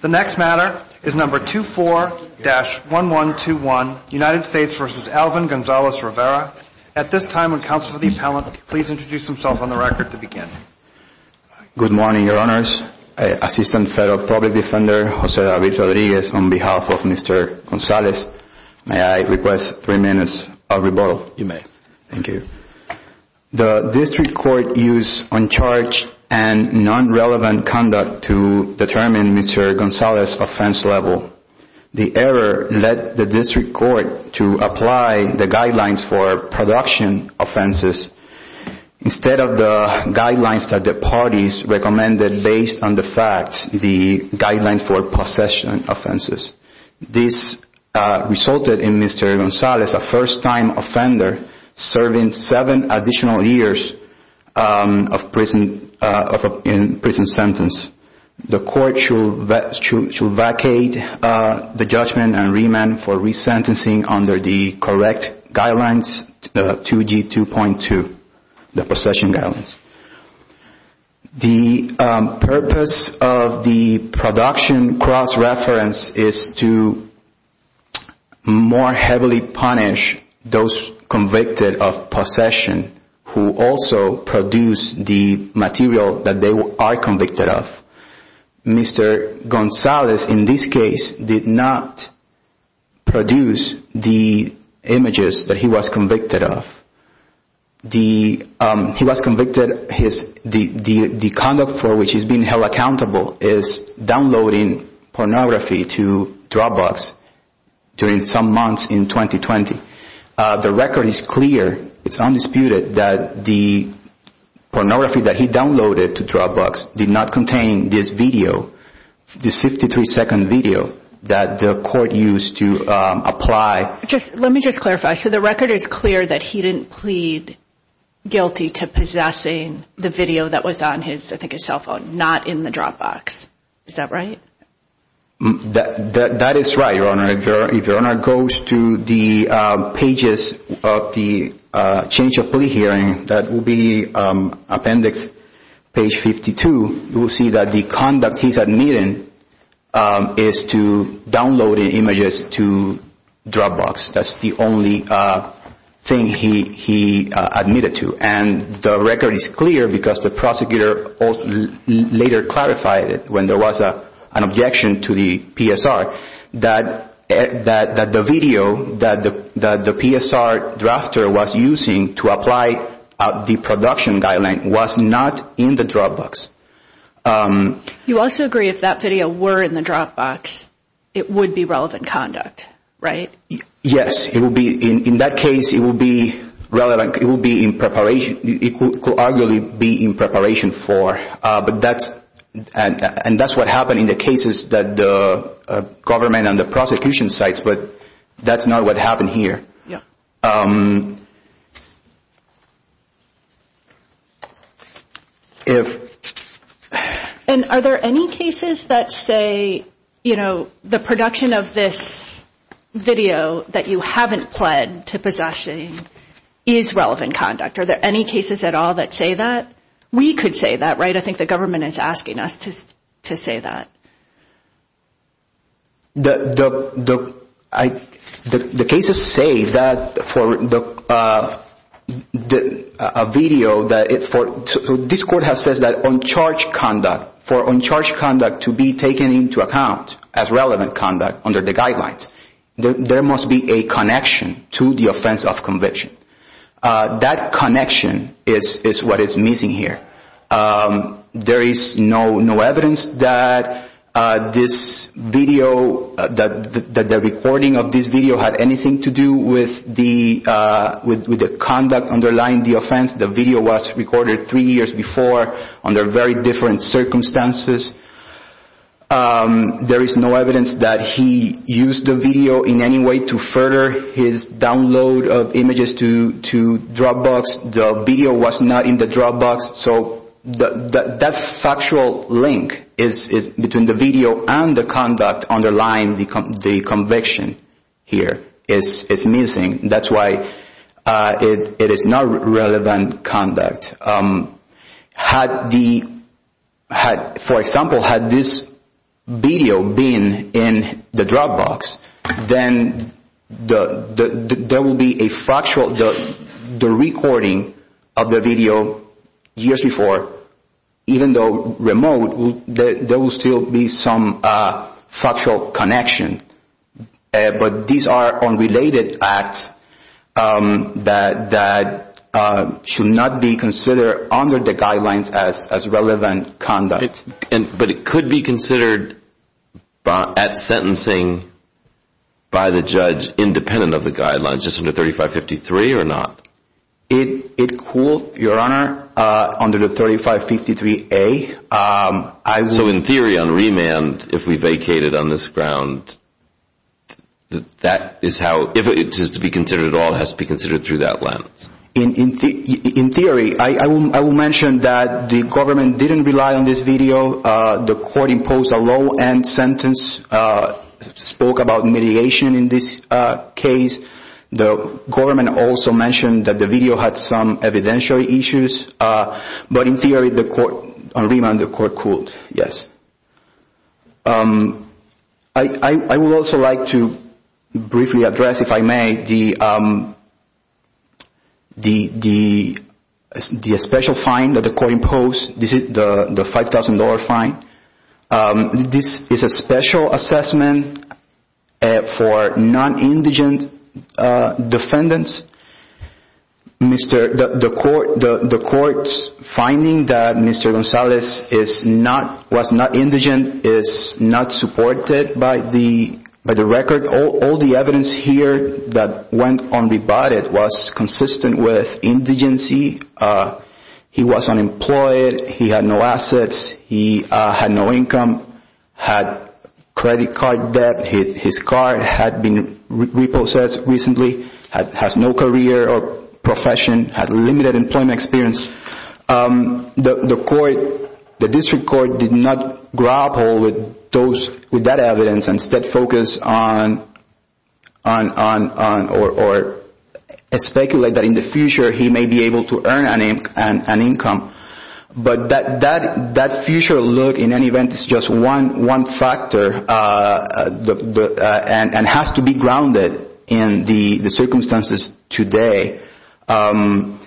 The next matter is No. 24-1121, United States v. Alvin Gonzalez-Rivera. At this time, would the Councilor of the Appellant please introduce himself on the record to begin. Good morning, Your Honors. Assistant Federal Public Defender Jose David Rodriguez on behalf of Mr. Gonzalez. May I request three minutes of rebuttal? You may. Thank you. The District Court used uncharged and non-relevant conduct to determine Mr. Gonzalez's offense level. The error led the District Court to apply the guidelines for production offenses instead of the guidelines that the parties recommended based on the facts, the guidelines for possession offenses. This resulted in Mr. Gonzalez, a first-time offender, serving seven additional years in prison sentence. The Court shall vacate the judgment and remand for resentencing under the correct guidelines, 2G2.2, the possession guidelines. The purpose of the production cross-reference is to more heavily punish those convicted of possession who also produced the material that they are convicted of. Mr. Gonzalez, in this case, did not produce the images that he was convicted of. He was convicted. The conduct for which he has been held accountable is downloading pornography to Dropbox during some months in 2020. The record is clear. It's undisputed that the pornography that he downloaded to Dropbox did not contain this video, this 53-second video that the Court used to apply. Let me just clarify. So the record is clear that he didn't plead guilty to possessing the video that was on his cell phone, not in the Dropbox. Is that right? That is right, Your Honor. If Your Honor goes to the pages of the change of plea hearing, that will be appendix page 52, you will see that the conduct he's admitting is to downloading images to Dropbox. That's the only thing he admitted to. And the record is clear because the prosecutor later clarified it when there was an objection to the PSR that the video that the PSR drafter was using to apply the production guideline was not in the Dropbox. You also agree if that video were in the Dropbox, it would be relevant conduct, right? Yes. In that case, it would be relevant. It could arguably be in preparation for. And that's what happened in the cases that the government and the prosecution cites, but that's not what happened here. And are there any cases that say, you know, the production of this video that you haven't pled to possessing is relevant conduct? Are there any cases at all that say that? We could say that, right? I think the government is asking us to say that. The cases say that for a video, this court has said that for uncharged conduct to be taken into account as relevant conduct under the guidelines, there must be a connection to the offense of conviction. That connection is what is missing here. There is no evidence that this video, that the recording of this video had anything to do with the conduct underlying the offense. The video was recorded three years before under very different circumstances. There is no evidence that he used the video in any way to further his download of images to Dropbox. The video was not in the Dropbox. So that factual link between the video and the conduct underlying the conviction here is missing. That's why it is not relevant conduct. For example, had this video been in the Dropbox, then there will be a factual, the recording of the video years before, even though remote, there will still be some factual connection. But these are unrelated acts that should not be considered under the guidelines as relevant conduct. But it could be considered at sentencing by the judge independent of the guidelines, just under 3553 or not? It could, Your Honor, under the 3553A. So in theory, on remand, if we vacated on this ground, that is how, if it is to be considered at all, it has to be considered through that lens? In theory, I will mention that the government didn't rely on this video. The court imposed a low-end sentence, spoke about mitigation in this case. The government also mentioned that the video had some evidential issues. But in theory, on remand, the court cooled. I would also like to briefly address, if I may, the special fine that the court imposed, the $5,000 fine. This is a special assessment for non-indigent defendants. The court's finding that Mr. Gonzalez was not indigent is not supported by the record. All the evidence here that went unrebutted was consistent with indigency. He was unemployed, he had no assets, he had no income, had credit card debt, his car had been repossessed recently, has no career or profession, had limited employment experience. The district court did not grapple with that evidence and instead focused on or speculated that in the future he may be able to earn an income. But that future look, in any event, is just one factor and has to be grounded in the circumstances today. And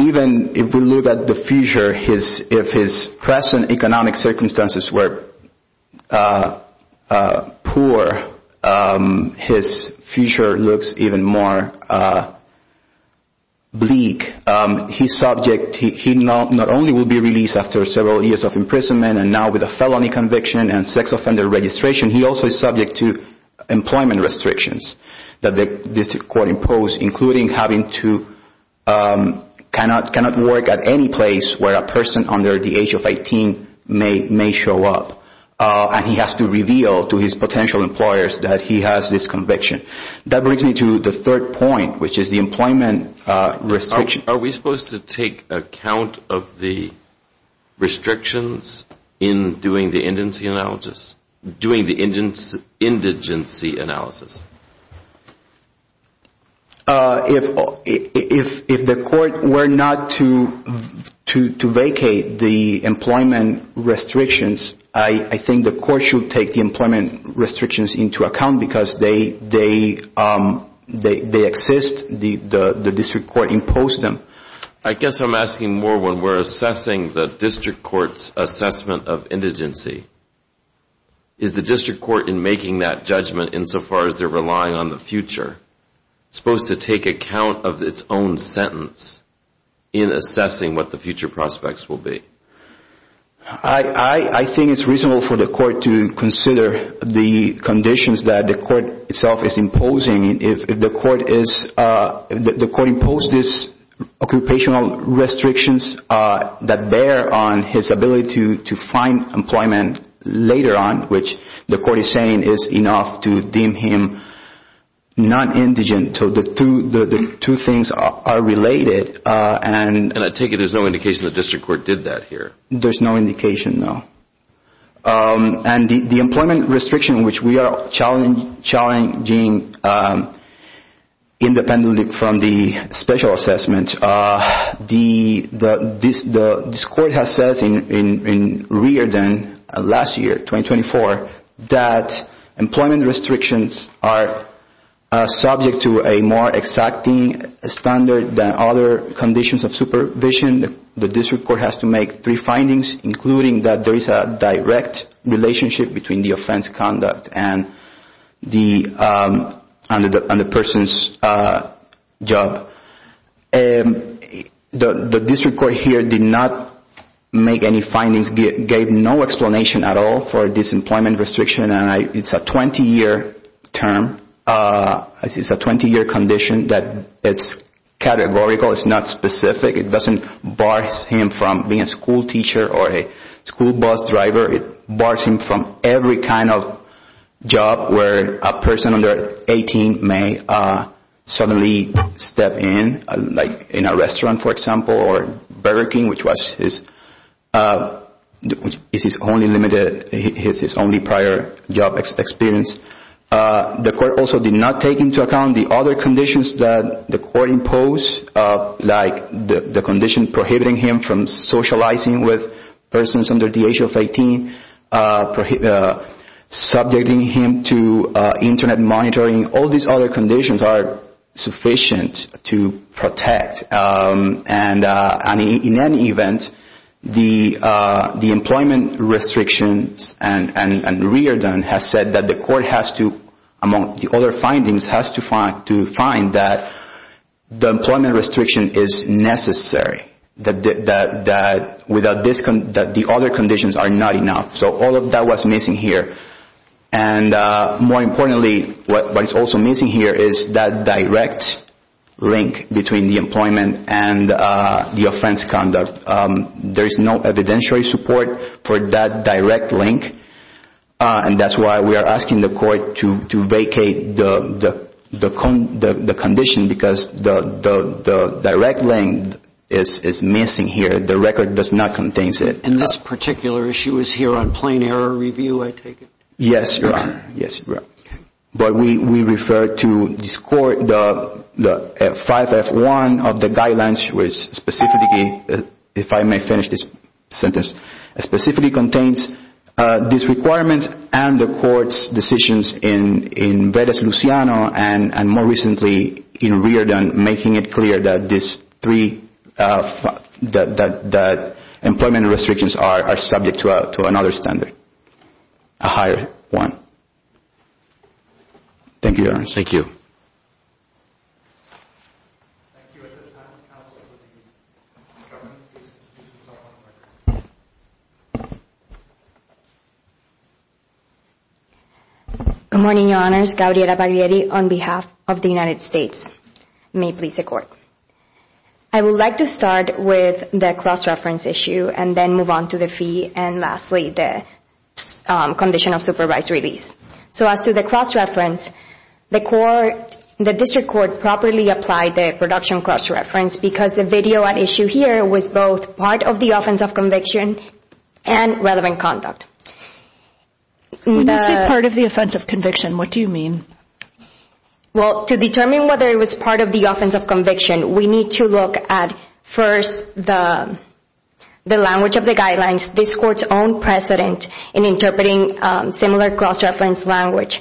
even if we look at the future, if his present economic circumstances were poor, his future looks even more bleak. He not only will be released after several years of imprisonment and now with a felony conviction and sex offender registration, he also is subject to employment restrictions that the district court imposed, including having to not work at any place where a person under the age of 18 may show up. And he has to reveal to his potential employers that he has this conviction. That brings me to the third point, which is the employment restriction. Are we supposed to take account of the restrictions in doing the indigency analysis? If the court were not to vacate the employment restrictions, I think the court should take the employment restrictions into account because they exist, the district court imposed them. I guess I'm asking more when we're assessing the district court's assessment of indigency. Is the district court in making that judgment insofar as they're relying on the future supposed to take account of its own sentence in assessing what the future prospects will be? I think it's reasonable for the court to consider the conditions that the court itself is imposing. If the court imposed these occupational restrictions that bear on his ability to find employment later on, which the court is saying is enough to deem him non-indigent. The two things are related. And I take it there's no indication the district court did that here. There's no indication, no. And the employment restriction, which we are challenging independently from the special assessment, this court has said in Riordan last year, 2024, that employment restrictions are subject to a more exacting standard than other conditions of supervision. The district court has to make three findings, including that there is a direct relationship between the offense conduct and the person's job. The district court here did not make any findings, gave no explanation at all for this employment restriction, and it's a 20-year term. It's a 20-year condition that it's categorical. It's not specific. It doesn't bar him from being a school teacher or a school bus driver. It bars him from every kind of job where a person under 18 may suddenly step in, like in a restaurant, for example, or Burger King, which is his only prior job experience. The court also did not take into account the other conditions that the court imposed, like the condition prohibiting him from socializing with persons under the age of 18, subjecting him to Internet monitoring. All these other conditions are sufficient to protect. In any event, the employment restrictions and Riordan have said that the court has to, among the other findings, has to find that the employment restriction is necessary, that the other conditions are not enough. So all of that was missing here. And more importantly, what is also missing here is that direct link between the employment and the offense conduct. There is no evidentiary support for that direct link, and that's why we are asking the court to vacate the condition, because the direct link is missing here. The record does not contain it. And this particular issue is here on plain error review, I take it? Yes, Your Honor. Yes, Your Honor. But we refer to this court, the 5F1 of the guidelines, which specifically, if I may finish this sentence, specifically contains these requirements and the court's decisions in Verdes-Luciano and more recently in Riordan, making it clear that employment restrictions are subject to another standard, a higher one. Thank you, Your Honor. Thank you. Thank you. Good morning, Your Honors. Gabriela Baglieri on behalf of the United States. May it please the Court. I would like to start with the cross-reference issue and then move on to the fee and lastly the condition of supervised release. So as to the cross-reference, the District Court properly applied the production cross-reference because the video at issue here was both part of the offense of conviction and relevant conduct. When you say part of the offense of conviction, what do you mean? Well, to determine whether it was part of the offense of conviction, we need to look at first the language of the guidelines, this Court's own precedent in interpreting similar cross-reference language,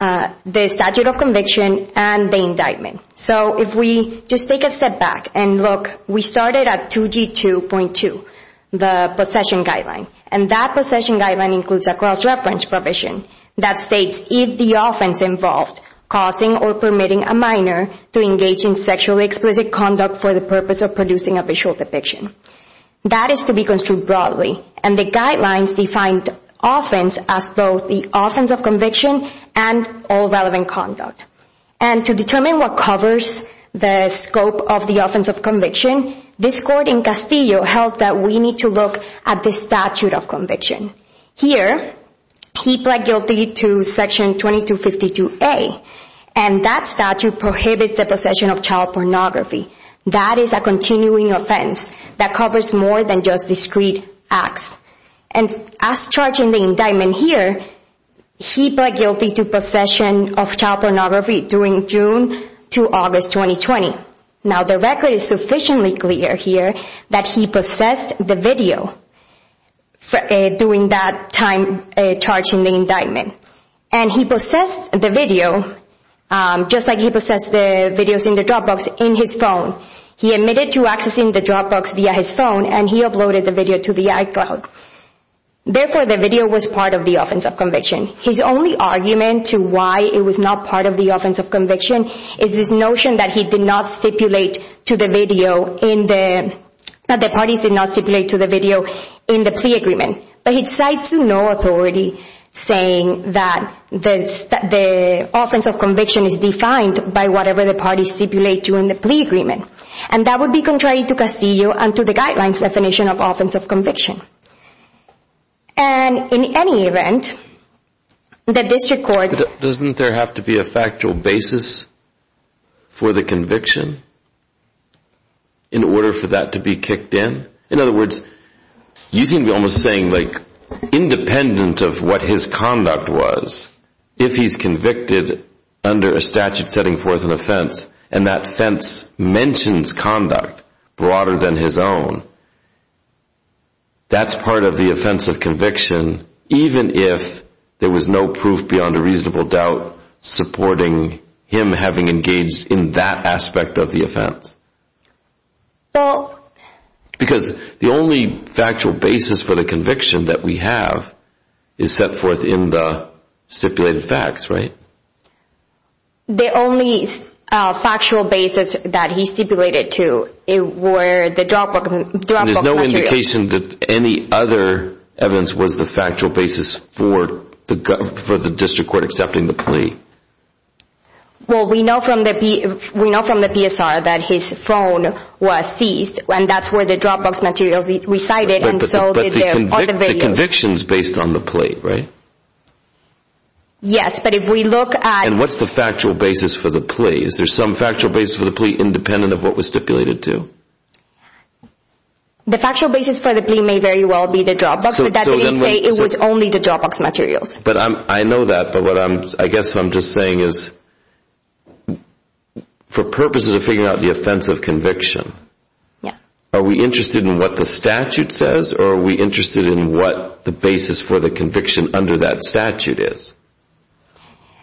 the statute of conviction, and the indictment. So if we just take a step back and look, we started at 2G2.2, the possession guideline, and that possession guideline includes a cross-reference provision that states, if the offense involved causing or permitting a minor to engage in sexually explicit conduct for the purpose of producing a visual depiction. That is to be construed broadly, and the guidelines defined offense as both the offense of conviction and all relevant conduct. And to determine what covers the scope of the offense of conviction, this Court in Castillo held that we need to look at the statute of conviction. Here, he pled guilty to Section 2252A, and that statute prohibits the possession of child pornography. That is a continuing offense that covers more than just discrete acts. And as charged in the indictment here, he pled guilty to possession of child pornography during June to August 2020. Now, the record is sufficiently clear here that he possessed the video during that time charged in the indictment. And he possessed the video, just like he possessed the videos in the Dropbox, in his phone. He admitted to accessing the Dropbox via his phone, and he uploaded the video to the iCloud. Therefore, the video was part of the offense of conviction. His only argument to why it was not part of the offense of conviction is this notion that he did not stipulate to the video in the— that the parties did not stipulate to the video in the plea agreement. But he decides to no authority saying that the offense of conviction is defined by whatever the parties stipulate to in the plea agreement. And that would be contrary to Castillo and to the guidelines definition of offense of conviction. And in any event, the District Court— Doesn't there have to be a factual basis for the conviction in order for that to be kicked in? In other words, you seem to be almost saying, like, independent of what his conduct was, if he's convicted under a statute setting forth an offense, and that offense mentions conduct broader than his own, that's part of the offense of conviction, even if there was no proof beyond a reasonable doubt supporting him having engaged in that aspect of the offense. Well— Because the only factual basis for the conviction that we have is set forth in the stipulated facts, right? The only factual basis that he stipulated to were the dropbook materials. There's no indication that any other evidence was the factual basis for the District Court accepting the plea. Well, we know from the PSR that his phone was seized, and that's where the dropbook materials recited, and so— But the conviction's based on the plea, right? Yes, but if we look at— And what's the factual basis for the plea? Is there some factual basis for the plea independent of what was stipulated to? The factual basis for the plea may very well be the dropbook, but that may say it was only the dropbook materials. But I know that, but what I'm—I guess what I'm just saying is, for purposes of figuring out the offense of conviction— Yes. Are we interested in what the statute says, or are we interested in what the basis for the conviction under that statute is?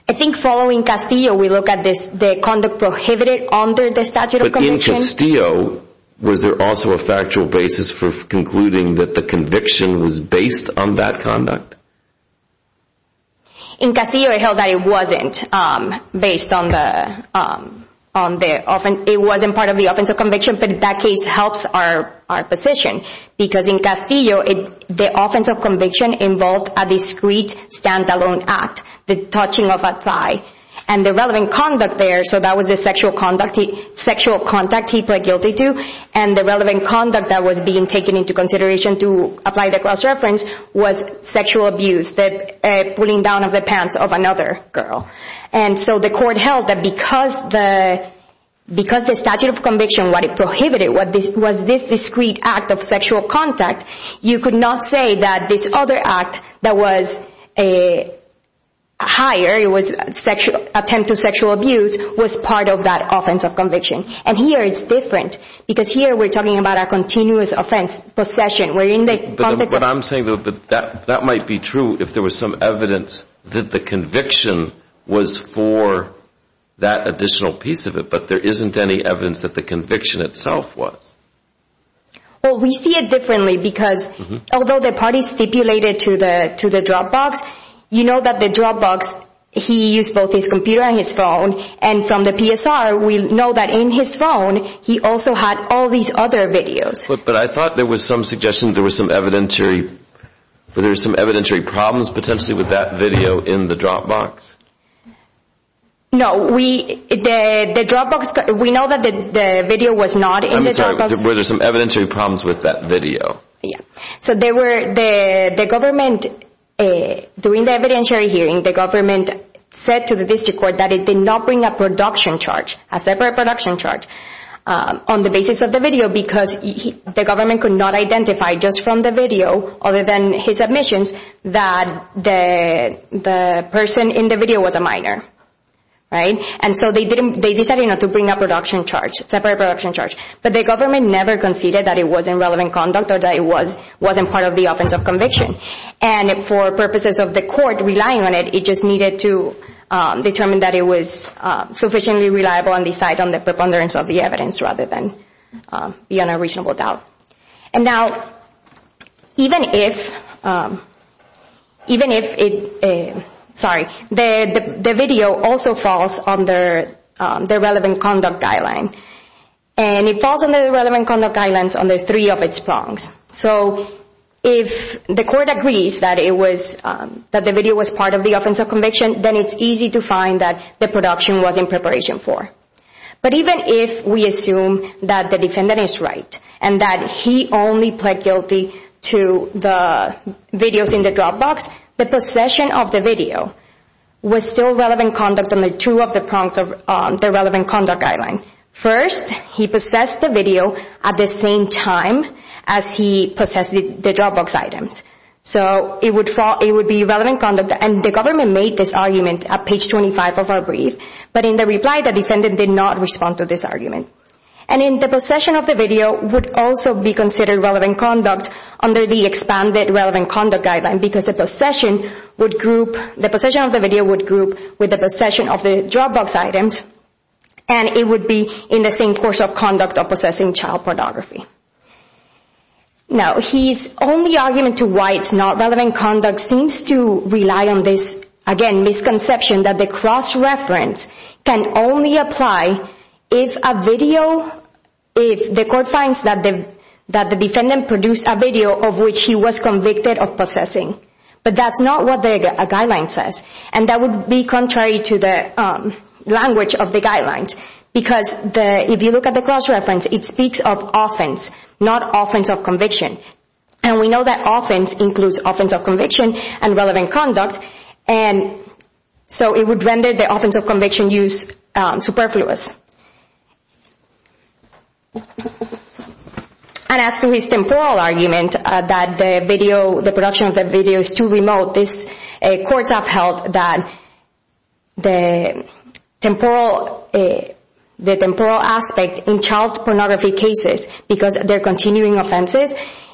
I think following Castillo, we look at the conduct prohibited under the statute of conviction. In Castillo, was there also a factual basis for concluding that the conviction was based on that conduct? In Castillo, it held that it wasn't based on the—it wasn't part of the offense of conviction, but that case helps our position. Because in Castillo, the offense of conviction involved a discrete, stand-alone act, the touching of a thigh. And the relevant conduct there—so that was the sexual contact he pled guilty to. And the relevant conduct that was being taken into consideration to apply the cross-reference was sexual abuse, the pulling down of the pants of another girl. And so the court held that because the statute of conviction, what it prohibited, was this discrete act of sexual contact, you could not say that this other act that was higher, it was attempt to sexual abuse, was part of that offense of conviction. And here it's different, because here we're talking about a continuous offense, possession. We're in the context of— But I'm saying that that might be true if there was some evidence that the conviction was for that additional piece of it, but there isn't any evidence that the conviction itself was. Well, we see it differently, because although the parties stipulated to the Dropbox, you know that the Dropbox, he used both his computer and his phone. And from the PSR, we know that in his phone, he also had all these other videos. But I thought there was some suggestion there was some evidentiary— there were some evidentiary problems potentially with that video in the Dropbox. No, we—the Dropbox—we know that the video was not in the Dropbox. Were there some evidentiary problems with that video? Yeah. So there were—the government, during the evidentiary hearing, the government said to the district court that it did not bring a production charge, a separate production charge, on the basis of the video, because the government could not identify just from the video, other than his admissions, that the person in the video was a minor, right? And so they decided not to bring a production charge, separate production charge. But the government never conceded that it was in relevant conduct or that it was—wasn't part of the offense of conviction. And for purposes of the court relying on it, it just needed to determine that it was sufficiently reliable and decide on the preponderance of the evidence rather than be on a reasonable doubt. And now, even if—even if it—sorry. The video also falls under the relevant conduct guideline. And it falls under the relevant conduct guidelines under three of its prongs. So if the court agrees that it was—that the video was part of the offense of conviction, then it's easy to find that the production was in preparation for. But even if we assume that the defendant is right and that he only pled guilty to the videos in the Dropbox, the possession of the video was still relevant conduct under two of the prongs of the relevant conduct guideline. First, he possessed the video at the same time as he possessed the Dropbox items. So it would fall—it would be relevant conduct. And the government made this argument at page 25 of our brief. But in the reply, the defendant did not respond to this argument. And in the possession of the video would also be considered relevant conduct under the expanded relevant conduct guideline because the possession would group— the possession of the video would group with the possession of the Dropbox items. And it would be in the same course of conduct of possessing child pornography. Now, his only argument to why it's not relevant conduct seems to rely on this, again, misconception that the cross-reference can only apply if a video— if the court finds that the defendant produced a video of which he was convicted of possessing. But that's not what the guideline says. And that would be contrary to the language of the guidelines because if you look at the cross-reference, it speaks of offense, not offense of conviction. And we know that offense includes offense of conviction and relevant conduct. And so it would render the offense of conviction use superfluous. And as to his temporal argument that the video—the production of the video is too remote, this—courts have held that the temporal aspect in child pornography cases because of their continuing offenses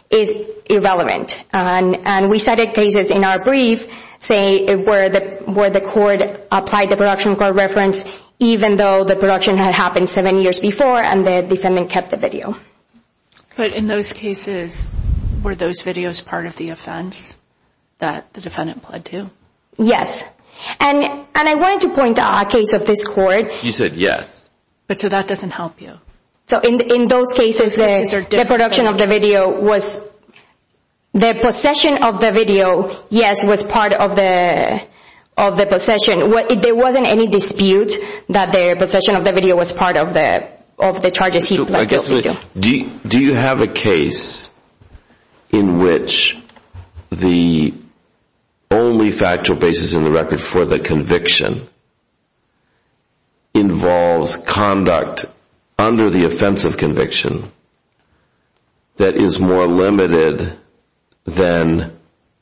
is irrelevant. And we cited cases in our brief, say, where the court applied the production core reference even though the production had happened seven years before and the defendant kept the video. But in those cases, were those videos part of the offense that the defendant pled to? Yes. And I wanted to point out a case of this court. You said yes. But so that doesn't help you. So in those cases, the production of the video was—the possession of the video, yes, was part of the possession. There wasn't any dispute that the possession of the video was part of the charges he pled guilty to. Do you have a case in which the only factual basis in the record for the conviction involves conduct under the offense of conviction that is more limited than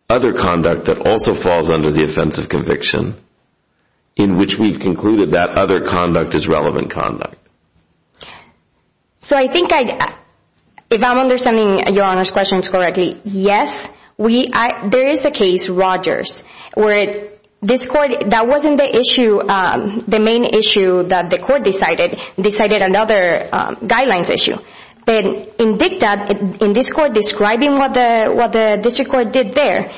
other conduct that also falls under the offense of conviction in which we've concluded that other conduct is relevant conduct? So I think I—if I'm understanding Your Honor's questions correctly, yes. We—there is a case, Rogers, where this court—that wasn't the issue, the main issue that the court decided, decided another guidelines issue. But in dicta, in this court describing what the district court did there,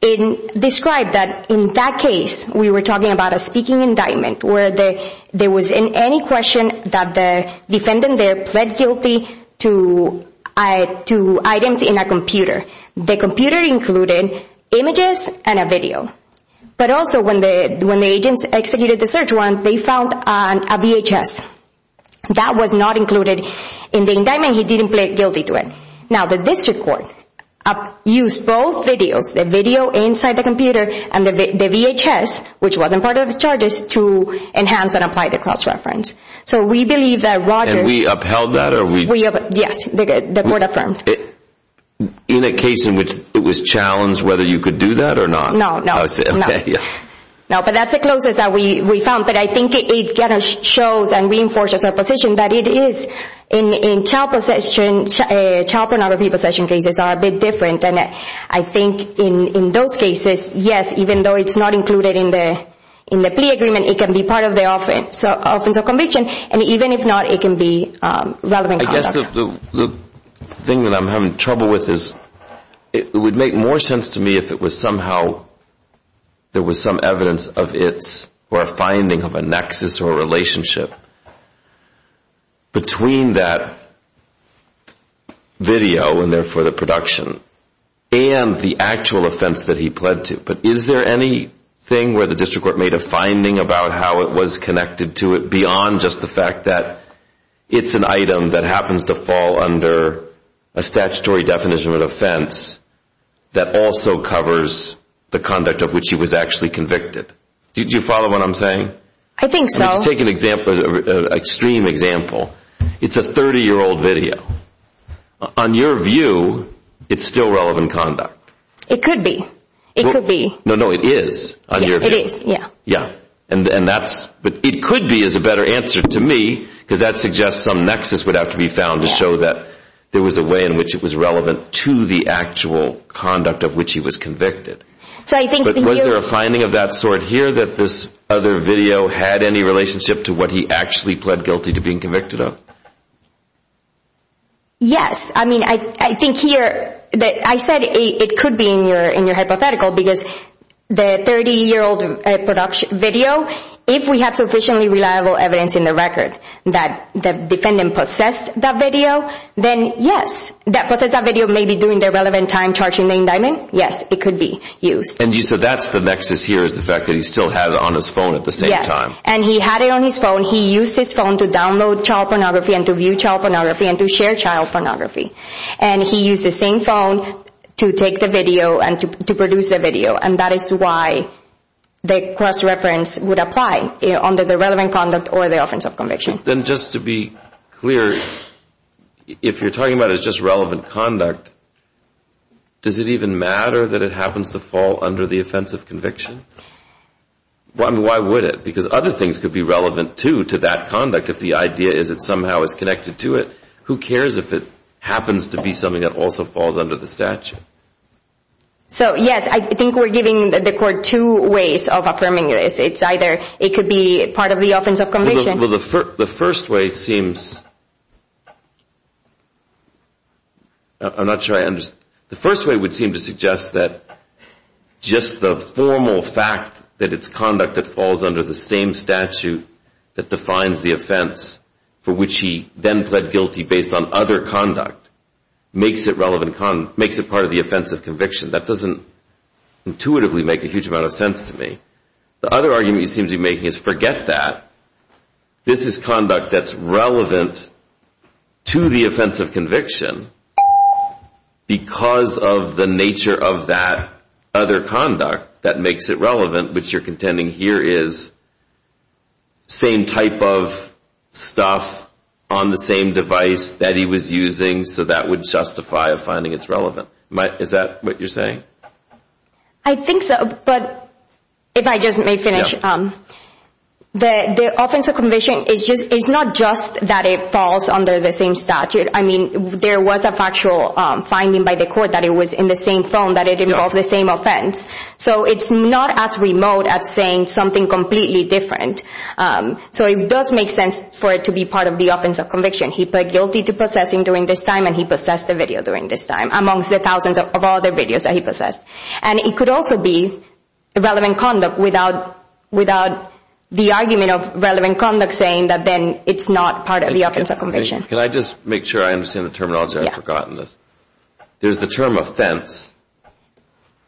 it described that in that case, we were talking about a speaking indictment where there was any question that the defendant there pled guilty to items in a computer. The computer included images and a video. But also when the agents executed the search warrant, they found a VHS. That was not included in the indictment. He didn't pled guilty to it. Now the district court used both videos, the video inside the computer and the VHS, which wasn't part of the charges, to enhance and apply the cross-reference. So we believe that Rogers— And we upheld that or we— Yes, the court affirmed. In a case in which it was challenged whether you could do that or not? No, no. No, but that's the closest that we found. But I think it kind of shows and reinforces our position that it is in child possession, child pornography possession cases are a bit different. And I think in those cases, yes, even though it's not included in the plea agreement, it can be part of the offense of conviction. And even if not, it can be relevant conduct. I guess the thing that I'm having trouble with is it would make more sense to me if it was somehow there was some evidence of its or a finding of a nexus or a relationship between that video and therefore the production and the actual offense that he pled to. But is there anything where the district court made a finding about how it was connected to it beyond just the fact that it's an item that happens to fall under a statutory definition of an offense that also covers the conduct of which he was actually convicted? Do you follow what I'm saying? I think so. Let's take an example, an extreme example. It's a 30-year-old video. On your view, it's still relevant conduct. It could be. It could be. No, no, it is on your view. It is, yeah. Yeah. But it could be is a better answer to me because that suggests some nexus would have to be found to show that there was a way in which it was relevant to the actual conduct of which he was convicted. But was there a finding of that sort here that this other video had any relationship to what he actually pled guilty to being convicted of? Yes. I mean, I think here that I said it could be in your hypothetical because the 30-year-old video, if we have sufficiently reliable evidence in the record that the defendant possessed that video, then yes, that possessed that video may be doing the relevant time charging the indictment. Yes, it could be used. And so that's the nexus here is the fact that he still had it on his phone at the same time. Yes, and he had it on his phone. He used his phone to download child pornography and to view child pornography and to share child pornography. And he used the same phone to take the video and to produce the video, and that is why the cross-reference would apply under the relevant conduct or the offense of conviction. Then just to be clear, if you're talking about it as just relevant conduct, does it even matter that it happens to fall under the offense of conviction? Why would it? Because other things could be relevant, too, to that conduct if the idea is it somehow is connected to it. Who cares if it happens to be something that also falls under the statute? So, yes, I think we're giving the court two ways of affirming this. It's either it could be part of the offense of conviction. Well, the first way seems to suggest that just the formal fact that it's conduct that falls under the same statute that defines the offense for which he then pled guilty based on other conduct makes it part of the offense of conviction. That doesn't intuitively make a huge amount of sense to me. The other argument he seems to be making is forget that. This is conduct that's relevant to the offense of conviction because of the nature of that other conduct that makes it relevant, which you're contending here is same type of stuff on the same device that he was using, so that would justify a finding it's relevant. Is that what you're saying? I think so, but if I just may finish, the offense of conviction is not just that it falls under the same statute. I mean, there was a factual finding by the court that it was in the same phone, that it involved the same offense. So it's not as remote as saying something completely different. So it does make sense for it to be part of the offense of conviction. He pled guilty to possessing during this time, and he possessed the video during this time, amongst the thousands of other videos that he possessed. And it could also be relevant conduct without the argument of relevant conduct saying that then it's not part of the offense of conviction. Can I just make sure I understand the terminology? I've forgotten this. There's the term offense,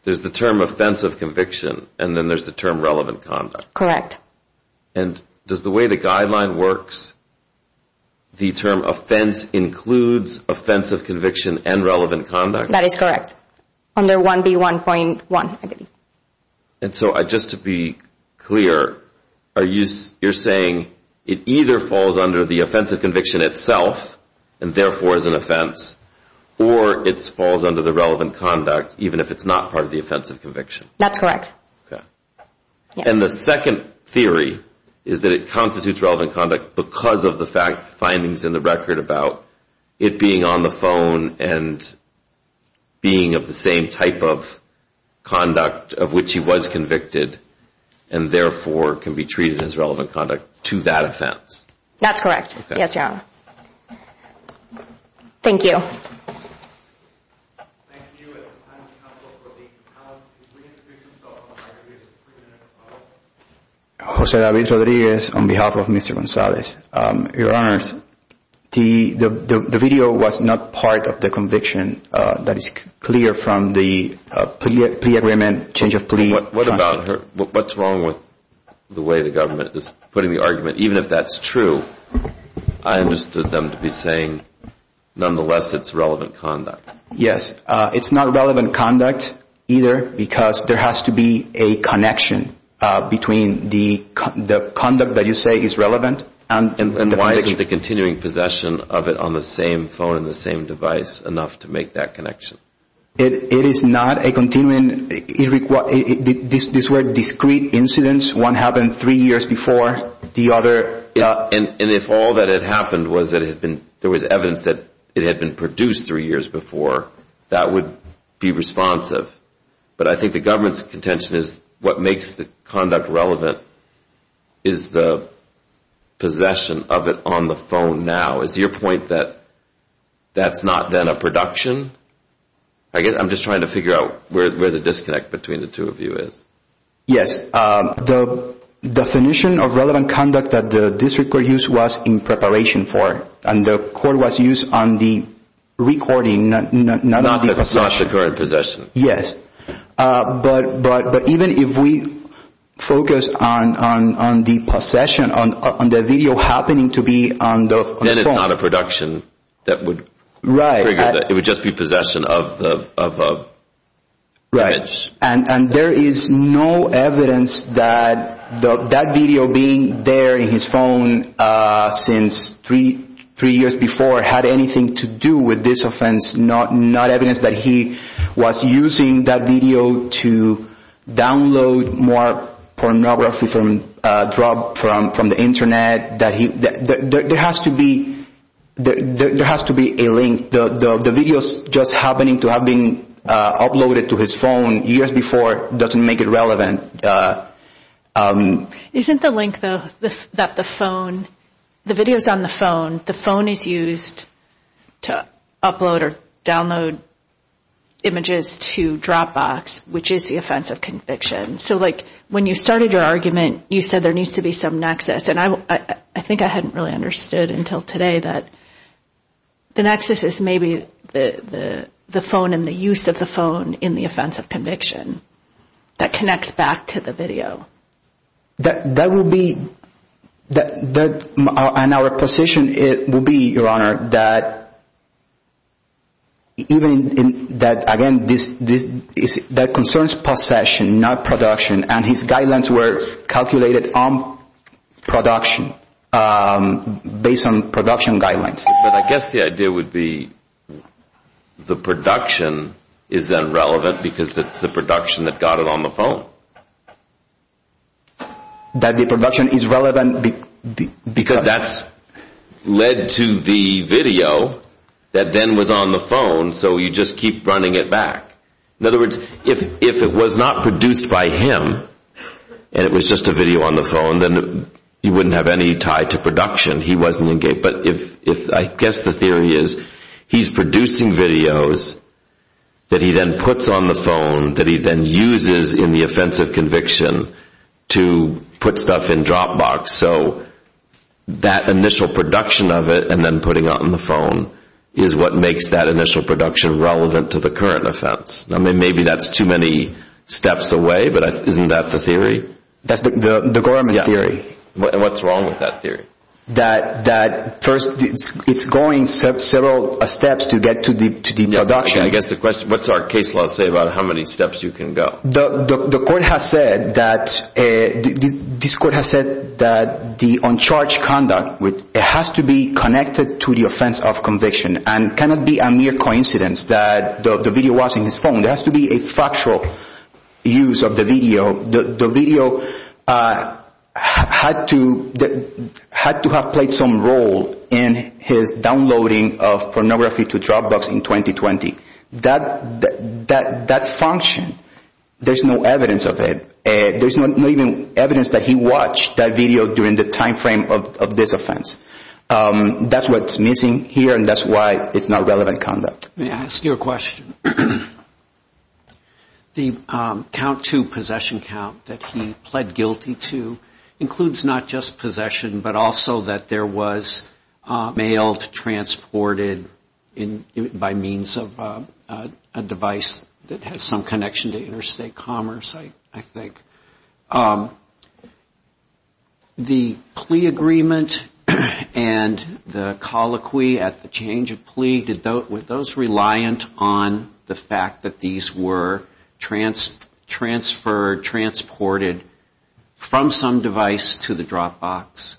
there's the term offensive conviction, and then there's the term relevant conduct. Correct. And does the way the guideline works, the term offense includes offensive conviction and relevant conduct? That is correct, under 1B1.1. And so just to be clear, you're saying it either falls under the offense of conviction itself, and therefore is an offense, or it falls under the relevant conduct, even if it's not part of the offense of conviction. That's correct. Okay. And the second theory is that it constitutes relevant conduct because of the findings in the record about it being on the phone and being of the same type of conduct of which he was convicted, and therefore can be treated as relevant conduct to that offense. That's correct. Yes, Your Honor. Thank you. Thank you. At this time, we have one from the panel. Could we introduce ourselves before I introduce the president of the panel? Jose David Rodriguez on behalf of Mr. Gonzalez. Your Honors, the video was not part of the conviction. That is clear from the plea agreement, change of plea. What about her? What's wrong with the way the government is putting the argument, even if that's true? I understood them to be saying, nonetheless, it's relevant conduct. Yes. It's not relevant conduct either because there has to be a connection between the conduct that you say is relevant and the connection. And why isn't the continuing possession of it on the same phone and the same device enough to make that connection? It is not a continuing. These were discrete incidents. One happened three years before the other. And if all that had happened was there was evidence that it had been produced three years before, that would be responsive. But I think the government's contention is what makes the conduct relevant is the possession of it on the phone now. Is your point that that's not then a production? I'm just trying to figure out where the disconnect between the two of you is. Yes. The definition of relevant conduct that the district court used was in preparation for. And the court was used on the recording, not on the possession. Not the current possession. Yes. But even if we focus on the possession, on the video happening to be on the phone. Then it's not a production. Right. It would just be possession of the image. Right. And there is no evidence that that video being there in his phone since three years before had anything to do with this offense. Not evidence that he was using that video to download more pornography from the Internet. There has to be a link. The videos just happening to have been uploaded to his phone years before doesn't make it relevant. Isn't the link, though, that the phone, the videos on the phone, the phone is used to upload or download images to Dropbox, which is the offense of conviction? So, like, when you started your argument, you said there needs to be some nexus. And I think I hadn't really understood until today that the nexus is maybe the phone and the use of the phone in the offense of conviction. That connects back to the video. That will be, and our position will be, Your Honor, that even, again, that concerns possession, not production. And his guidelines were calculated on production, based on production guidelines. But I guess the idea would be the production is then relevant because it's the production that got it on the phone. That the production is relevant because. Because that's led to the video that then was on the phone, so you just keep running it back. In other words, if it was not produced by him and it was just a video on the phone, then you wouldn't have any tie to production. He wasn't engaged. But if, I guess the theory is he's producing videos that he then puts on the phone, that he then uses in the offense of conviction to put stuff in Dropbox. So that initial production of it and then putting it on the phone is what makes that initial production relevant to the current offense. Maybe that's too many steps away, but isn't that the theory? That's the government's theory. And what's wrong with that theory? That first it's going several steps to get to the production. I guess the question, what's our case law say about how many steps you can go? The court has said that the uncharged conduct has to be connected to the offense of conviction. And it cannot be a mere coincidence that the video was in his phone. There has to be a factual use of the video. The video had to have played some role in his downloading of pornography to Dropbox in 2020. That function, there's no evidence of it. There's not even evidence that he watched that video during the time frame of this offense. That's what's missing here, and that's why it's not relevant conduct. Let me ask you a question. The count to possession count that he pled guilty to includes not just possession, but also that there was mail transported by means of a device that has some connection to interstate commerce, I think. The plea agreement and the colloquy at the change of plea, were those reliant on the fact that these were transferred, transported from some device to the Dropbox?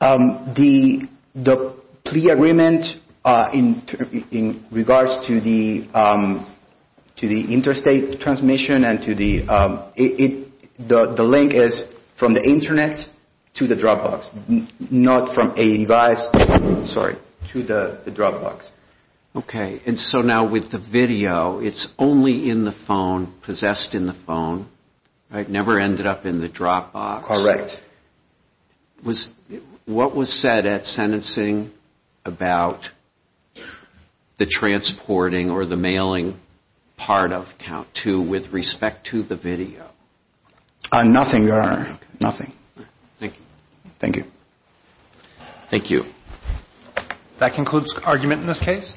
The plea agreement in regards to the interstate transmission and to the link is from the Internet to the Dropbox, not from a device, sorry, to the Dropbox. Okay, and so now with the video, it's only in the phone, possessed in the phone, never ended up in the Dropbox. Correct. What was said at sentencing about the transporting or the mailing part of count two with respect to the video? Nothing, Your Honor, nothing. Thank you. That concludes argument in this case.